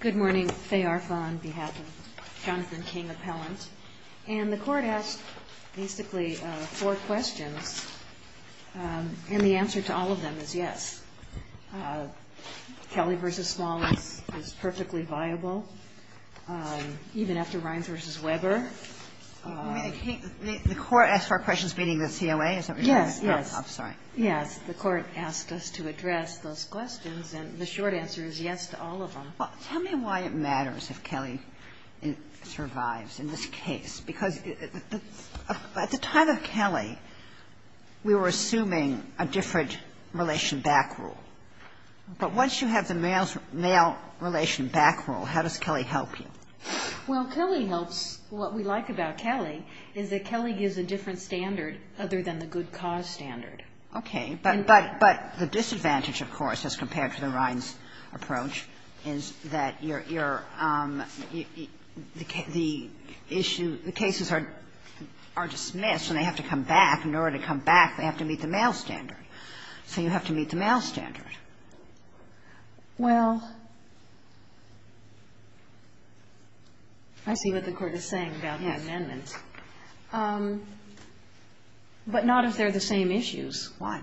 Good morning, Faye Arfa on behalf of Jonathan King Appellant. And the Court asked basically four questions, and the answer to all of them is yes. Kelly v. Small is perfectly viable, even after Rynes v. Weber. You mean the Court asked four questions meeting the COA? Yes, yes. I'm sorry. Yes, the Court asked us to address those questions, and the short answer is yes to all of them. Tell me why it matters if Kelly survives in this case. Because at the time of Kelly, we were assuming a different relation back rule. But once you have the male relation back rule, how does Kelly help you? Well, Kelly helps what we like about Kelly is that Kelly gives a different standard other than the good cause standard. Okay. But the disadvantage, of course, as compared to the Rynes approach is that your issue the cases are dismissed and they have to come back. In order to come back, they have to meet the male standard. So you have to meet the male standard. Well, I see what the Court is saying about the amendment. Yes. But not if they're the same issues. Why?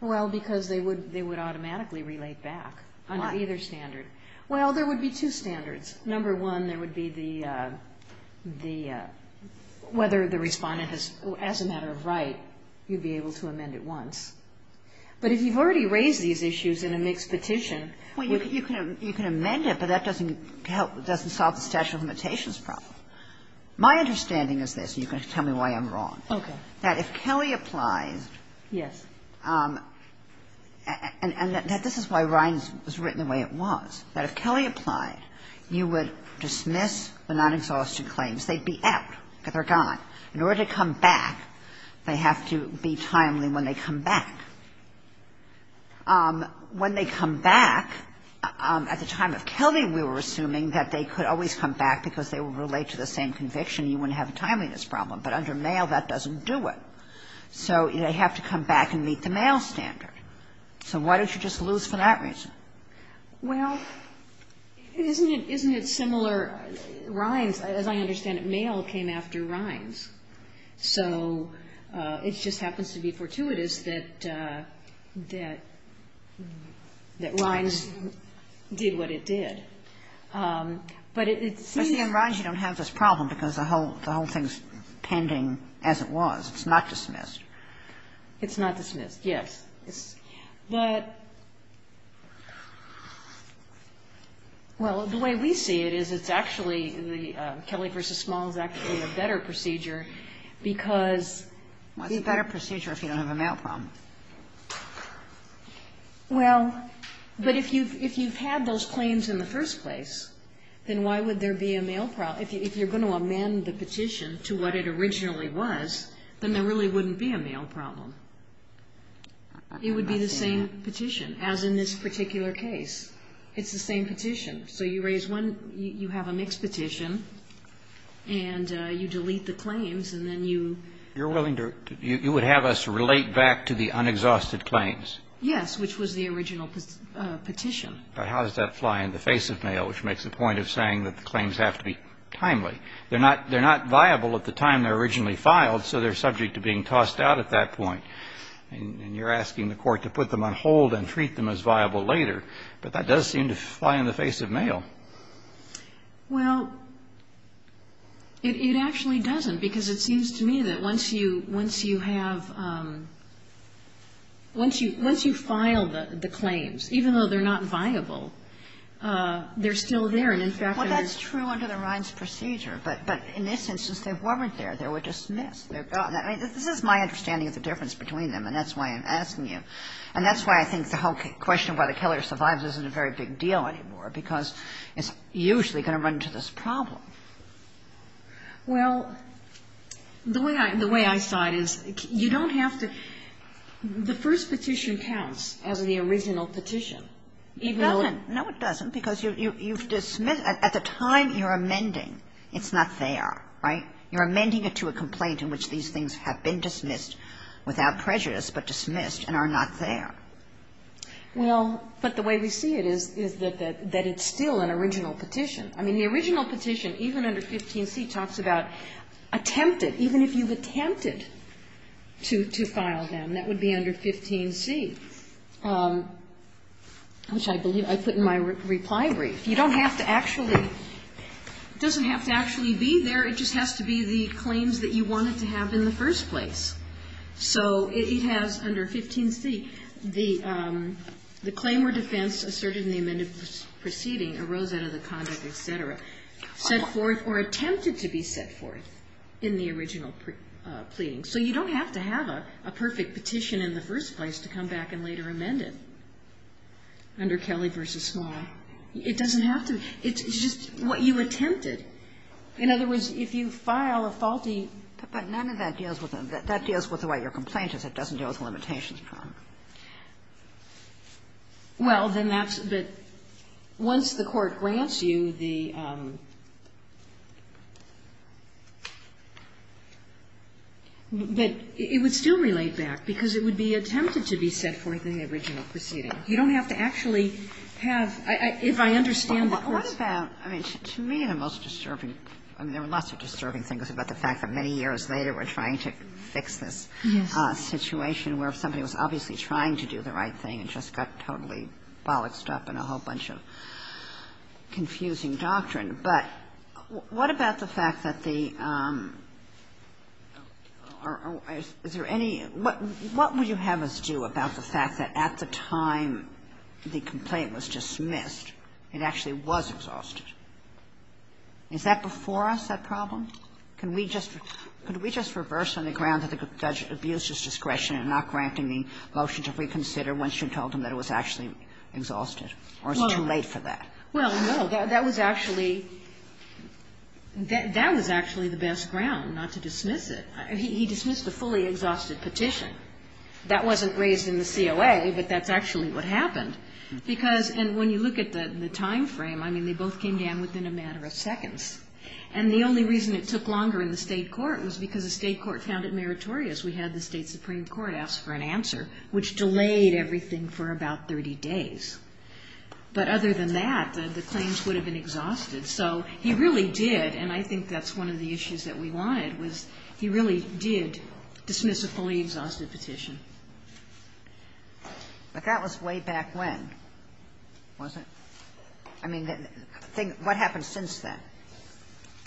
Well, because they would automatically relate back under either standard. Why? Well, there would be two standards. Number one, there would be the whether the Respondent has, as a matter of right, you'd be able to amend it once. But if you've already raised these issues in a mixed petition, you can amend it, but that doesn't help, doesn't solve the statute of limitations problem. My understanding is this, and you can tell me why I'm wrong. Okay. That if Kelly applies. Yes. And that this is why Rynes was written the way it was. That if Kelly applied, you would dismiss the non-exhaustive claims. They'd be out. They're gone. In order to come back, they have to be timely when they come back. When they come back, at the time of Kelly, we were assuming that they could always come back because they would relate to the same conviction. You wouldn't have a timeliness problem. But under Mayo, that doesn't do it. So they have to come back and meet the male standard. So why don't you just lose for that reason? Well, isn't it similar, Rynes, as I understand it, Mayo came after Rynes. So it just happens to be fortuitous that Rynes did what it did. I see on Rynes you don't have this problem because the whole thing is pending as it was. It's not dismissed. It's not dismissed, yes. But, well, the way we see it is it's actually the Kelly v. Small is actually a better procedure because the ---- Well, it's a better procedure if you don't have a male problem. Well, but if you've had those claims in the first place, then why would there be a male problem? If you're going to amend the petition to what it originally was, then there really wouldn't be a male problem. It would be the same petition, as in this particular case. It's the same petition. So you raise one ---- you have a mixed petition, and you delete the claims, and then you ---- You're willing to ---- you would have us relate back to the unexhausted claims? Yes, which was the original petition. But how does that fly in the face of Mayo, which makes the point of saying that the claims have to be timely? They're not viable at the time they're originally filed, so they're subject to being And you're asking the Court to put them on hold and treat them as viable later. But that does seem to fly in the face of Mayo. Well, it actually doesn't, because it seems to me that once you have ---- once you file the claims, even though they're not viable, they're still there, and in fact they're ---- Well, that's true under the Rhines procedure. But in this instance, they weren't there. They were dismissed. They're gone. I mean, this is my understanding of the difference between them, and that's why I'm asking you. And that's why I think the whole question of whether Keller survives isn't a very big deal anymore, because it's usually going to run into this problem. Well, the way I ---- the way I saw it is you don't have to ---- the first petition counts as the original petition, even though ---- It doesn't. No, it doesn't, because you've dismissed ---- at the time you're amending, it's not there. Right? You're amending it to a complaint in which these things have been dismissed without prejudice, but dismissed and are not there. Well, but the way we see it is that it's still an original petition. I mean, the original petition, even under 15c, talks about attempted, even if you've attempted to file them, that would be under 15c, which I put in my reply brief. You don't have to actually ---- it doesn't have to actually be there. It just has to be the claims that you wanted to have in the first place. So it has, under 15c, the claim or defense asserted in the amended proceeding arose out of the conduct, et cetera, set forth or attempted to be set forth in the original pleading. So you don't have to have a perfect petition in the first place to come back and later amend it under Kelly v. Small. It doesn't have to be. It's just what you attempted. In other words, if you file a faulty ---- Kagan, but none of that deals with the way your complaint is. It doesn't deal with limitations. Well, then that's the ---- once the Court grants you the ---- but it would still relate back because it would be attempted to be set forth in the original proceeding. You don't have to actually have ---- if I understand the Court's ---- I mean, to me, the most disturbing ---- I mean, there were lots of disturbing things about the fact that many years later we're trying to fix this situation where somebody was obviously trying to do the right thing and just got totally bollocked up in a whole bunch of confusing doctrine. But what about the fact that the ---- is there any ---- what would you have us do about the fact that at the time the complaint was dismissed, it actually was exhausted? Is that before us, that problem? Can we just ---- could we just reverse on the ground that the judge abused his discretion in not granting the motion to reconsider once you told him that it was actually exhausted, or is it too late for that? Well, no. That was actually ---- that was actually the best ground, not to dismiss it. He dismissed the fully exhausted petition. That wasn't raised in the COA, but that's actually what happened. Because ---- and when you look at the timeframe, I mean, they both came down within a matter of seconds. And the only reason it took longer in the State court was because the State court found it meritorious. We had the State supreme court ask for an answer, which delayed everything for about 30 days. But other than that, the claims would have been exhausted. So he really did, and I think that's one of the issues that we wanted, was he really did dismiss a fully exhausted petition. But that was way back when, wasn't it? I mean, the thing ---- what happened since then?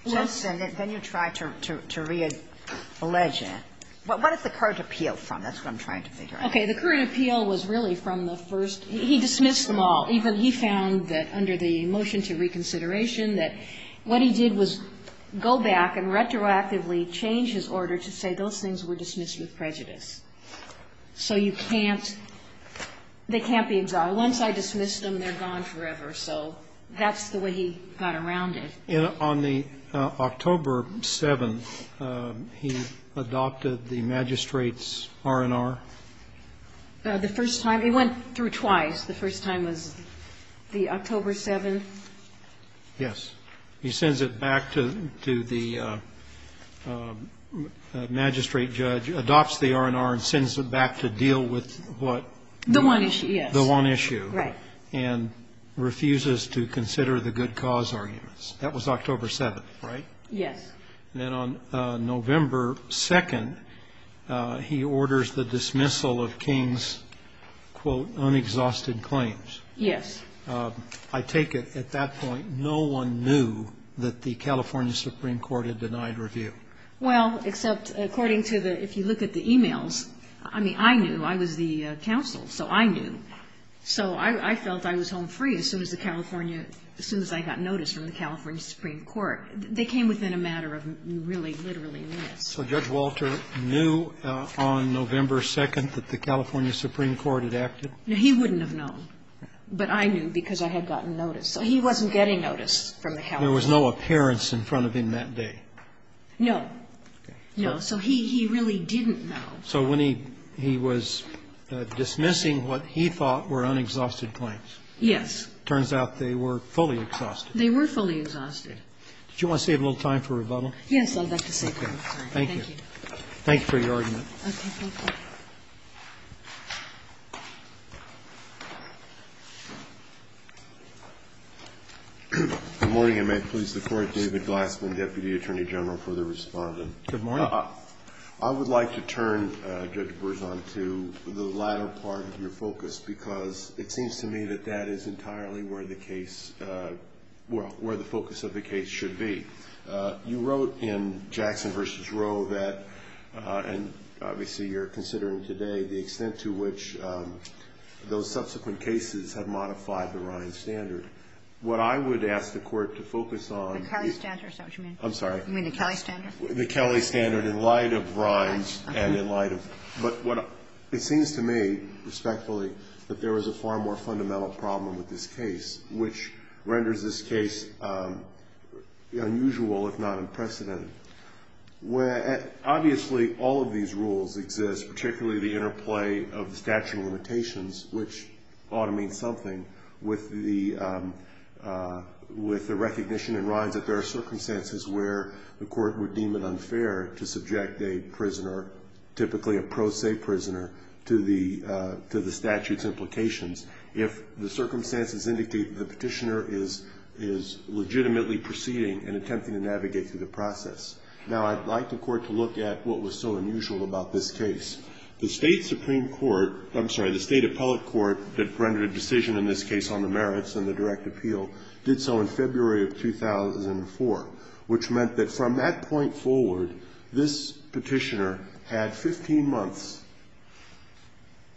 Yes. Then you tried to reallege it. What did the court appeal from? That's what I'm trying to figure out. Okay. The court appeal was really from the first ---- he dismissed them all. Even he found that under the motion to reconsideration that what he did was go back and retroactively change his order to say those things were dismissed with prejudice. So you can't ---- they can't be exhausted. Once I dismiss them, they're gone forever. So that's the way he got around it. And on the October 7th, he adopted the magistrate's R&R? The first time ---- it went through twice. The first time was the October 7th. Yes. He sends it back to the magistrate judge, adopts the R&R, and sends it back to deal with what? The one issue, yes. The one issue. Right. And refuses to consider the good cause arguments. That was October 7th, right? Yes. Then on November 2nd, he orders the dismissal of King's, quote, unexhausted claims. Yes. I take it at that point, no one knew that the California Supreme Court had denied review? Well, except according to the ---- if you look at the e-mails, I mean, I knew. I was the counsel, so I knew. So I felt I was home free as soon as the California ---- as soon as I got notice from the California Supreme Court. They came within a matter of really literally minutes. So Judge Walter knew on November 2nd that the California Supreme Court had acted? He wouldn't have known. But I knew because I had gotten notice. So he wasn't getting notice from the California Supreme Court. There was no appearance in front of him that day? No. No. So he really didn't know. So when he was dismissing what he thought were unexhausted claims? Yes. It turns out they were fully exhausted. They were fully exhausted. Did you want to save a little time for rebuttal? Yes, I'd like to save time. Thank you. Thank you for your argument. Okay. Good morning, and may it please the Court. David Glassman, Deputy Attorney General for the Respondent. Good morning. I would like to turn, Judge Berzon, to the latter part of your focus, because it seems to me that that is entirely where the case ---- well, where the focus of the case should be. You wrote in Jackson v. Roe that ---- and obviously you're a lawyer, considering today the extent to which those subsequent cases have modified the Ryan standard. What I would ask the Court to focus on ---- The Kelly standard, is that what you mean? I'm sorry. You mean the Kelly standard? The Kelly standard in light of Ryan's and in light of ---- Okay. But what it seems to me, respectfully, that there was a far more fundamental problem with this case, which renders this case unusual, if not unprecedented. Obviously, all of these rules exist, particularly the interplay of the statute of limitations, which ought to mean something, with the recognition in Ryan's that there are circumstances where the Court would deem it unfair to subject a prisoner, typically a pro se prisoner, to the statute's implications if the circumstances indicate that the petitioner is legitimately proceeding and attempting to navigate through the process. Now, I'd like the Court to look at what was so unusual about this case. The State Supreme Court ---- I'm sorry, the State Appellate Court that rendered a decision in this case on the merits and the direct appeal did so in February of 2004, which meant that from that point forward, this petitioner had 15 months,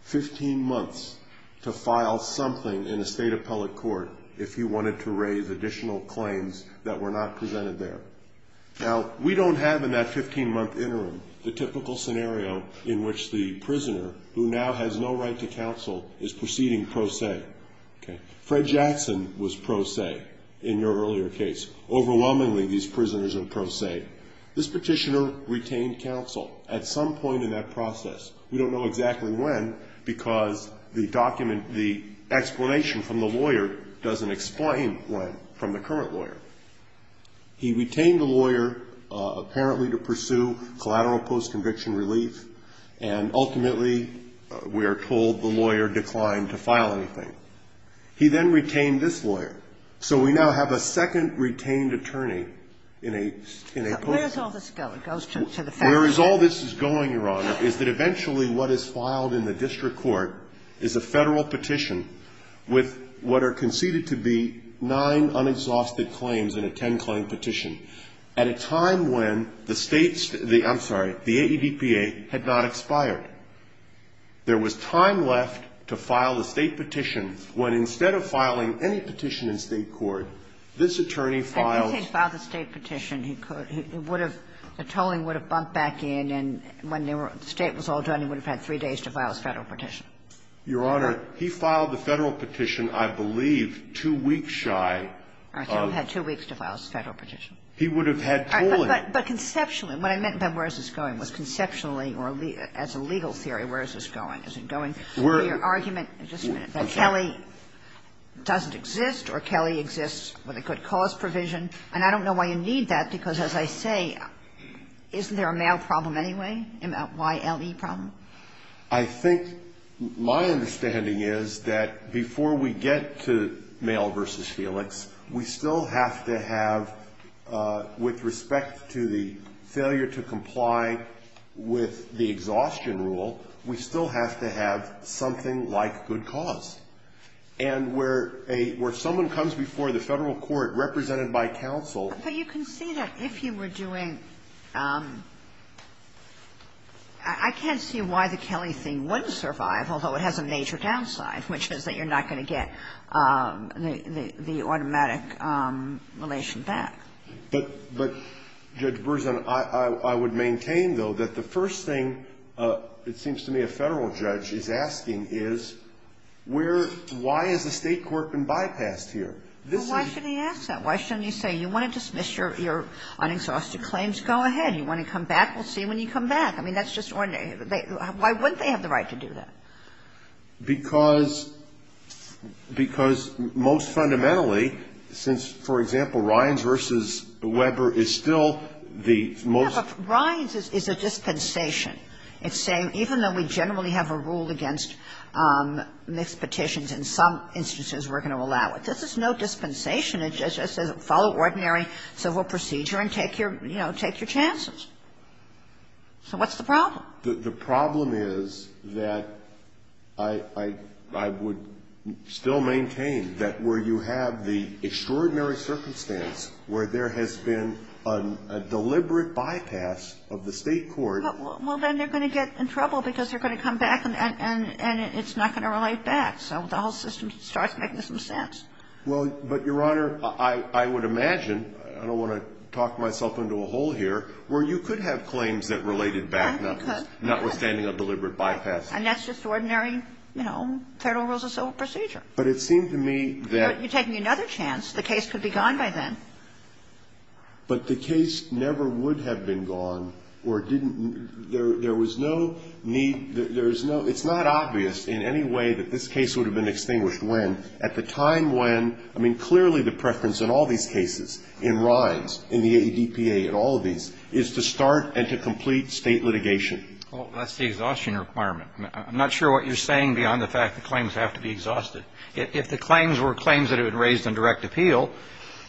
15 months to file something in a State Appellate Court if he wanted to raise additional claims that were not presented there. Now, we don't have in that 15-month interim the typical scenario in which the prisoner, who now has no right to counsel, is proceeding pro se. Okay? Fred Jackson was pro se in your earlier case. Overwhelmingly, these prisoners are pro se. This petitioner retained counsel at some point in that process. We don't know exactly when because the document, the explanation from the lawyer doesn't explain when from the current lawyer. He retained the lawyer apparently to pursue collateral post-conviction relief, and ultimately, we are told the lawyer declined to file anything. He then retained this lawyer. So we now have a second retained attorney in a, in a post ---- Where does all this go? It goes to the fact that ---- It goes to the fact that essentially what is filed in the district court is a Federal petition with what are conceded to be nine unexhausted claims in a ten-claim petition at a time when the State's ---- I'm sorry, the AEDPA had not expired. There was time left to file the State petition when instead of filing any petition in State court, this attorney filed ---- If he had filed the State petition, he could ---- he would have ---- the tolling would have bumped back in, and when they were ---- the State was all done, he would have had three days to file his Federal petition. Your Honor, he filed the Federal petition, I believe, two weeks shy of ---- He would have had two weeks to file his Federal petition. He would have had tolling. But conceptually, what I meant by where is this going was conceptually or as a legal theory, where is this going? Is it going to the argument that Kelly doesn't exist or Kelly exists with a good cause provision? And I don't know why you need that, because as I say, isn't there a Mayo problem anyway, a YLE problem? I think my understanding is that before we get to Mayo v. Felix, we still have to have, with respect to the failure to comply with the exhaustion rule, we still have to have something like good cause. And where a ---- where someone comes before the Federal court, represented by counsel ---- But you can see that if you were doing ---- I can't see why the Kelly thing wouldn't survive, although it has a major downside, which is that you're not going to get the automatic relation back. But, Judge Berzin, I would maintain, though, that the first thing, it seems to me, that the Federal judge is asking is where ---- why has the State court been bypassed here? This is ---- Well, why should he ask that? Why shouldn't he say, you want to dismiss your unexhausted claims? Go ahead. You want to come back? We'll see when you come back. I mean, that's just ordinary. Why wouldn't they have the right to do that? Because ---- because most fundamentally, since, for example, Ryans v. Weber is still the most ---- But Ryans is a dispensation. It's saying even though we generally have a rule against mixed petitions, in some instances, we're going to allow it. This is no dispensation. It just says follow ordinary civil procedure and take your, you know, take your chances. So what's the problem? The problem is that I would still maintain that where you have the extraordinary circumstance where there has been a deliberate bypass of the State court ---- Well, then they're going to get in trouble because they're going to come back and it's not going to relate back. So the whole system starts making some sense. Well, but, Your Honor, I would imagine ---- I don't want to talk myself into a hole here ---- where you could have claims that related back, notwithstanding a deliberate bypass. And that's just ordinary, you know, Federal rules of civil procedure. But it seemed to me that ---- You're taking another chance. The case could be gone by then. But the case never would have been gone or didn't ---- there was no need ---- there is no ---- it's not obvious in any way that this case would have been extinguished when, at the time when, I mean, clearly the preference in all these cases, in Ryans, in the ADPA, in all of these, is to start and to complete State litigation. Well, that's the exhaustion requirement. I'm not sure what you're saying beyond the fact that claims have to be exhausted. If the claims were claims that had been raised on direct appeal,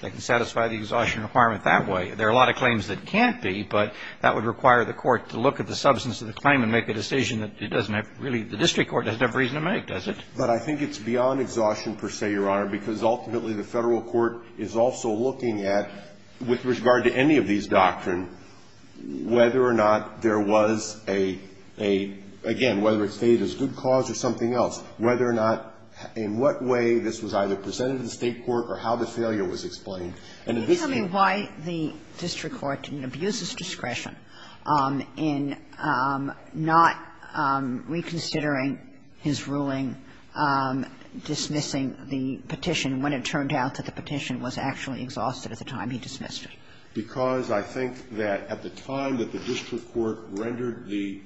they can satisfy the exhaustion requirement that way. There are a lot of claims that can't be, but that would require the Court to look at the substance of the claim and make a decision that it doesn't have really ---- the district court doesn't have reason to make, does it? But I think it's beyond exhaustion, per se, Your Honor, because ultimately the Federal Court is also looking at, with regard to any of these doctrine, whether or not there was a ---- a, again, whether it stated as good cause or something else, whether or not, in what way this was either presented to the State court or how the failure was explained. And in this case ---- Can you tell me why the district court didn't abuse its discretion in not reconsidering his ruling dismissing the petition when it turned out that the petition was actually exhausted at the time he dismissed it? Because I think that at the time that the district court rendered the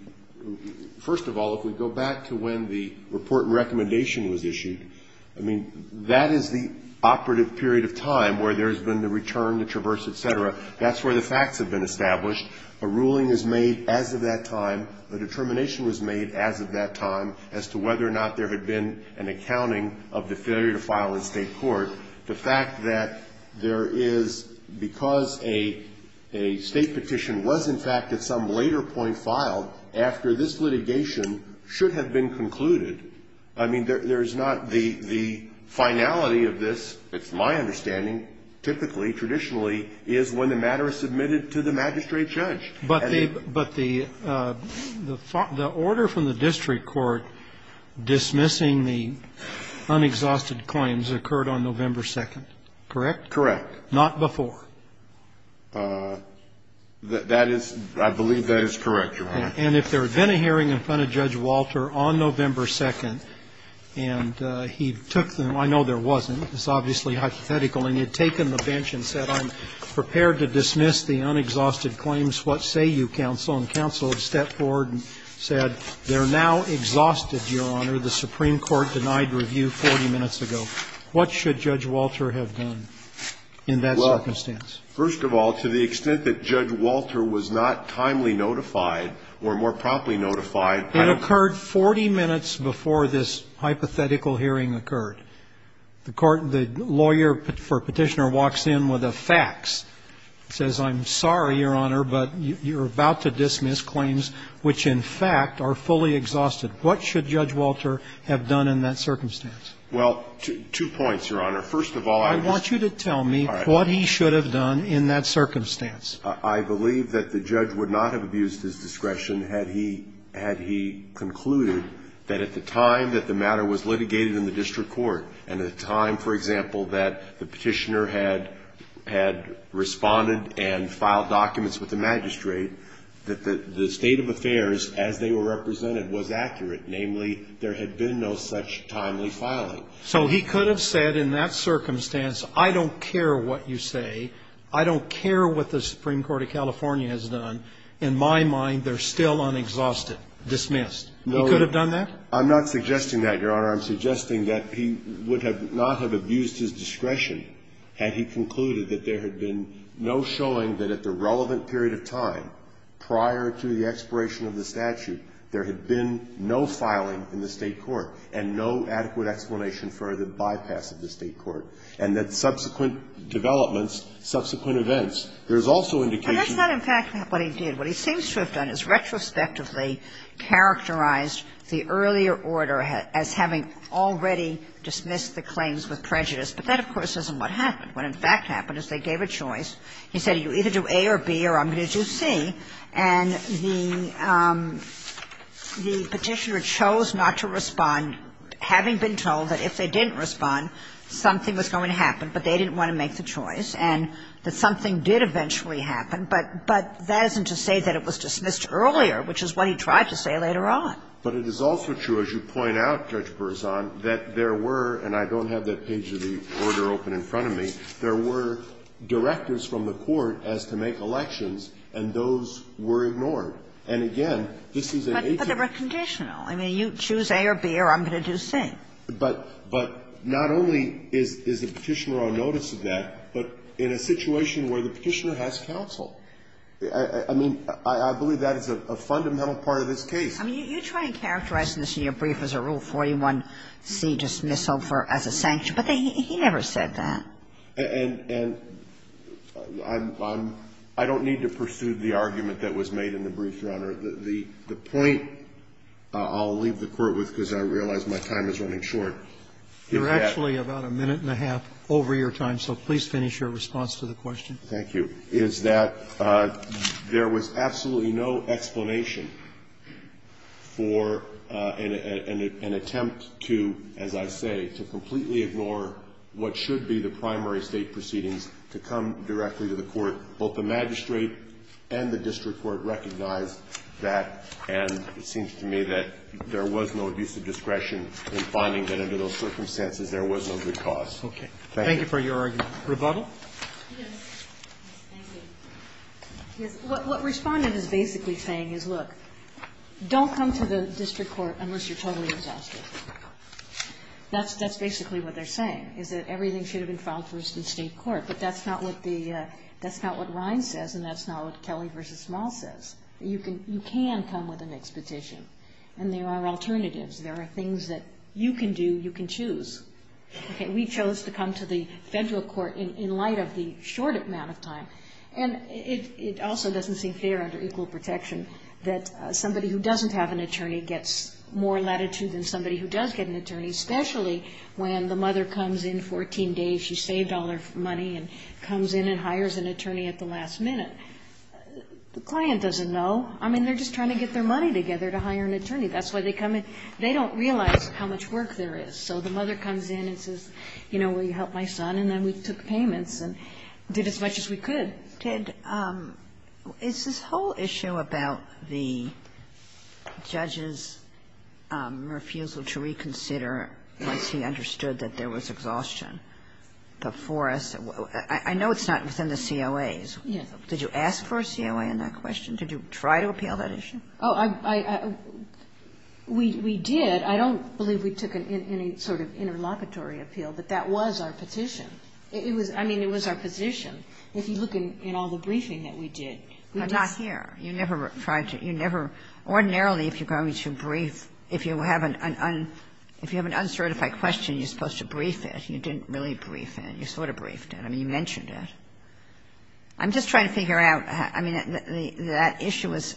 ---- first of all, if we go back to when the report and recommendation was issued, I mean, that is the operative period of time where there has been the return, the traverse, et cetera. That's where the facts have been established. A ruling is made as of that time, a determination was made as of that time as to whether or not there had been an accounting of the failure to file in State court. The fact that there is ---- because a State petition was, in fact, at some later point filed after this litigation should have been concluded, I mean, there's not the finality of this, it's my understanding, typically, traditionally, is when the matter is submitted to the magistrate judge. But the order from the district court dismissing the unexhausted claims occurred on November 2nd, correct? Correct. Not before? That is ---- I believe that is correct, Your Honor. And if there had been a hearing in front of Judge Walter on November 2nd and he took them, I know there wasn't, it's obviously hypothetical, and he had taken the bench and said, I'm prepared to dismiss the unexhausted claims, what say you, counsel? And counsel had stepped forward and said, they're now exhausted, Your Honor, the Supreme Court has dismissed the claims. What should Judge Walter have done in that circumstance? Well, first of all, to the extent that Judge Walter was not timely notified or more promptly notified ---- It occurred 40 minutes before this hypothetical hearing occurred. The court ---- the lawyer for Petitioner walks in with a fax, says, I'm sorry, Your Honor, but you're about to dismiss claims which, in fact, are fully exhausted. What should Judge Walter have done in that circumstance? Well, two points, Your Honor. First of all, I was ---- I want you to tell me what he should have done in that circumstance. I believe that the judge would not have abused his discretion had he ---- had he concluded that at the time that the matter was litigated in the district court and at a time, for example, that the Petitioner had responded and filed documents with the magistrate, that the state of affairs as they were represented was accurate. Namely, there had been no such timely filing. So he could have said in that circumstance, I don't care what you say, I don't care what the Supreme Court of California has done. In my mind, they're still unexhausted, dismissed. He could have done that? I'm not suggesting that, Your Honor. I'm suggesting that he would have not have abused his discretion had he concluded that there had been no showing that at the relevant period of time, prior to the expiration of the statute, there had been no filing in the State court and no adequate explanation for the bypass of the State court, and that subsequent developments, subsequent events, there's also indication ---- But that's not, in fact, what he did. What he seems to have done is retrospectively characterized the earlier order as having already dismissed the claims with prejudice, but that, of course, isn't what happened. What, in fact, happened is they gave a choice. He said, you either do A or B or I'm going to do C. And the Petitioner chose not to respond, having been told that if they didn't respond, something was going to happen, but they didn't want to make the choice, and that something did eventually happen, but that isn't to say that it was dismissed earlier, which is what he tried to say later on. But it is also true, as you point out, Judge Berzon, that there were, and I don't have that page of the order open in front of me, there were directives from the court as to make elections, and those were ignored. And, again, this is a case of ---- But they were conditional. I mean, you choose A or B or I'm going to do C. But not only is the Petitioner on notice of that, but in a situation where the Petitioner has counsel. I mean, I believe that is a fundamental part of this case. I mean, you try and characterize this in your brief as a Rule 41C dismissal for as a sanction, but he never said that. And I'm, I don't need to pursue the argument that was made in the brief, Your Honor. The point I'll leave the Court with, because I realize my time is running short. You're actually about a minute and a half over your time, so please finish your response to the question. Thank you. Is that there was absolutely no explanation for an attempt to, as I say, to completely ignore what should be the primary State proceedings to come directly to the Court. Both the magistrate and the district court recognized that, and it seems to me that there was no abuse of discretion in finding that under those circumstances there was no good cause. Thank you. Thank you for your argument. Rebuttal? Yes. Thank you. Yes. What Respondent is basically saying is, look, don't come to the district court unless you're totally exhausted. That's basically what they're saying, is that everything should have been filed first in State court. But that's not what the, that's not what Ryan says, and that's not what Kelly v. Small says. You can come with an expetition, and there are alternatives. There are things that you can do, you can choose. Okay. We chose to come to the Federal court in light of the short amount of time. And it, it also doesn't seem fair under equal protection that somebody who doesn't have an attorney gets more latitude than somebody who does get an attorney, especially when the mother comes in 14 days, she saved all her money, and comes in and hires an attorney at the last minute. The client doesn't know. I mean, they're just trying to get their money together to hire an attorney. That's why they come in. They don't realize how much work there is. So the mother comes in and says, you know, will you help my son? And then we took payments and did as much as we could. Kagan. Is this whole issue about the judge's refusal to reconsider once he understood that there was exhaustion before us, I know it's not within the COAs. Yes. Did you ask for a COA in that question? Did you try to appeal that issue? Oh, I, I, we, we did. I don't believe we took any sort of interlocutory appeal, but that was our petition. It was, I mean, it was our petition. If you look in, in all the briefing that we did, we just. But not here. You never tried to, you never, ordinarily, if you're going to brief, if you have an, an un, if you have an uncertified question, you're supposed to brief it. You didn't really brief it. You sort of briefed it. I mean, you mentioned it. I'm just trying to figure out, I mean, that issue is.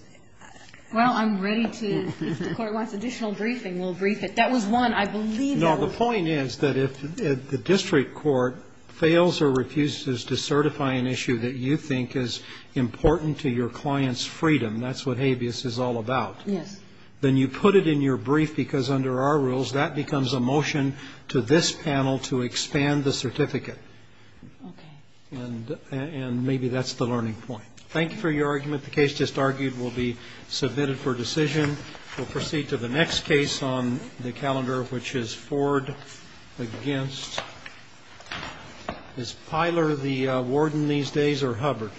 Well, I'm ready to, if the Court wants additional briefing, we'll brief it. That was one. I believe that was. No, the point is that if the district court fails or refuses to certify an issue that you think is important to your client's freedom, that's what habeas is all about. Yes. Then you put it in your brief because under our rules, that becomes a motion to this panel to expand the certificate. And, and maybe that's the learning point. Thank you for your argument. The case just argued will be submitted for decision. We'll proceed to the next case on the calendar, which is Ford against. Is Pyler the warden these days or Hubbard?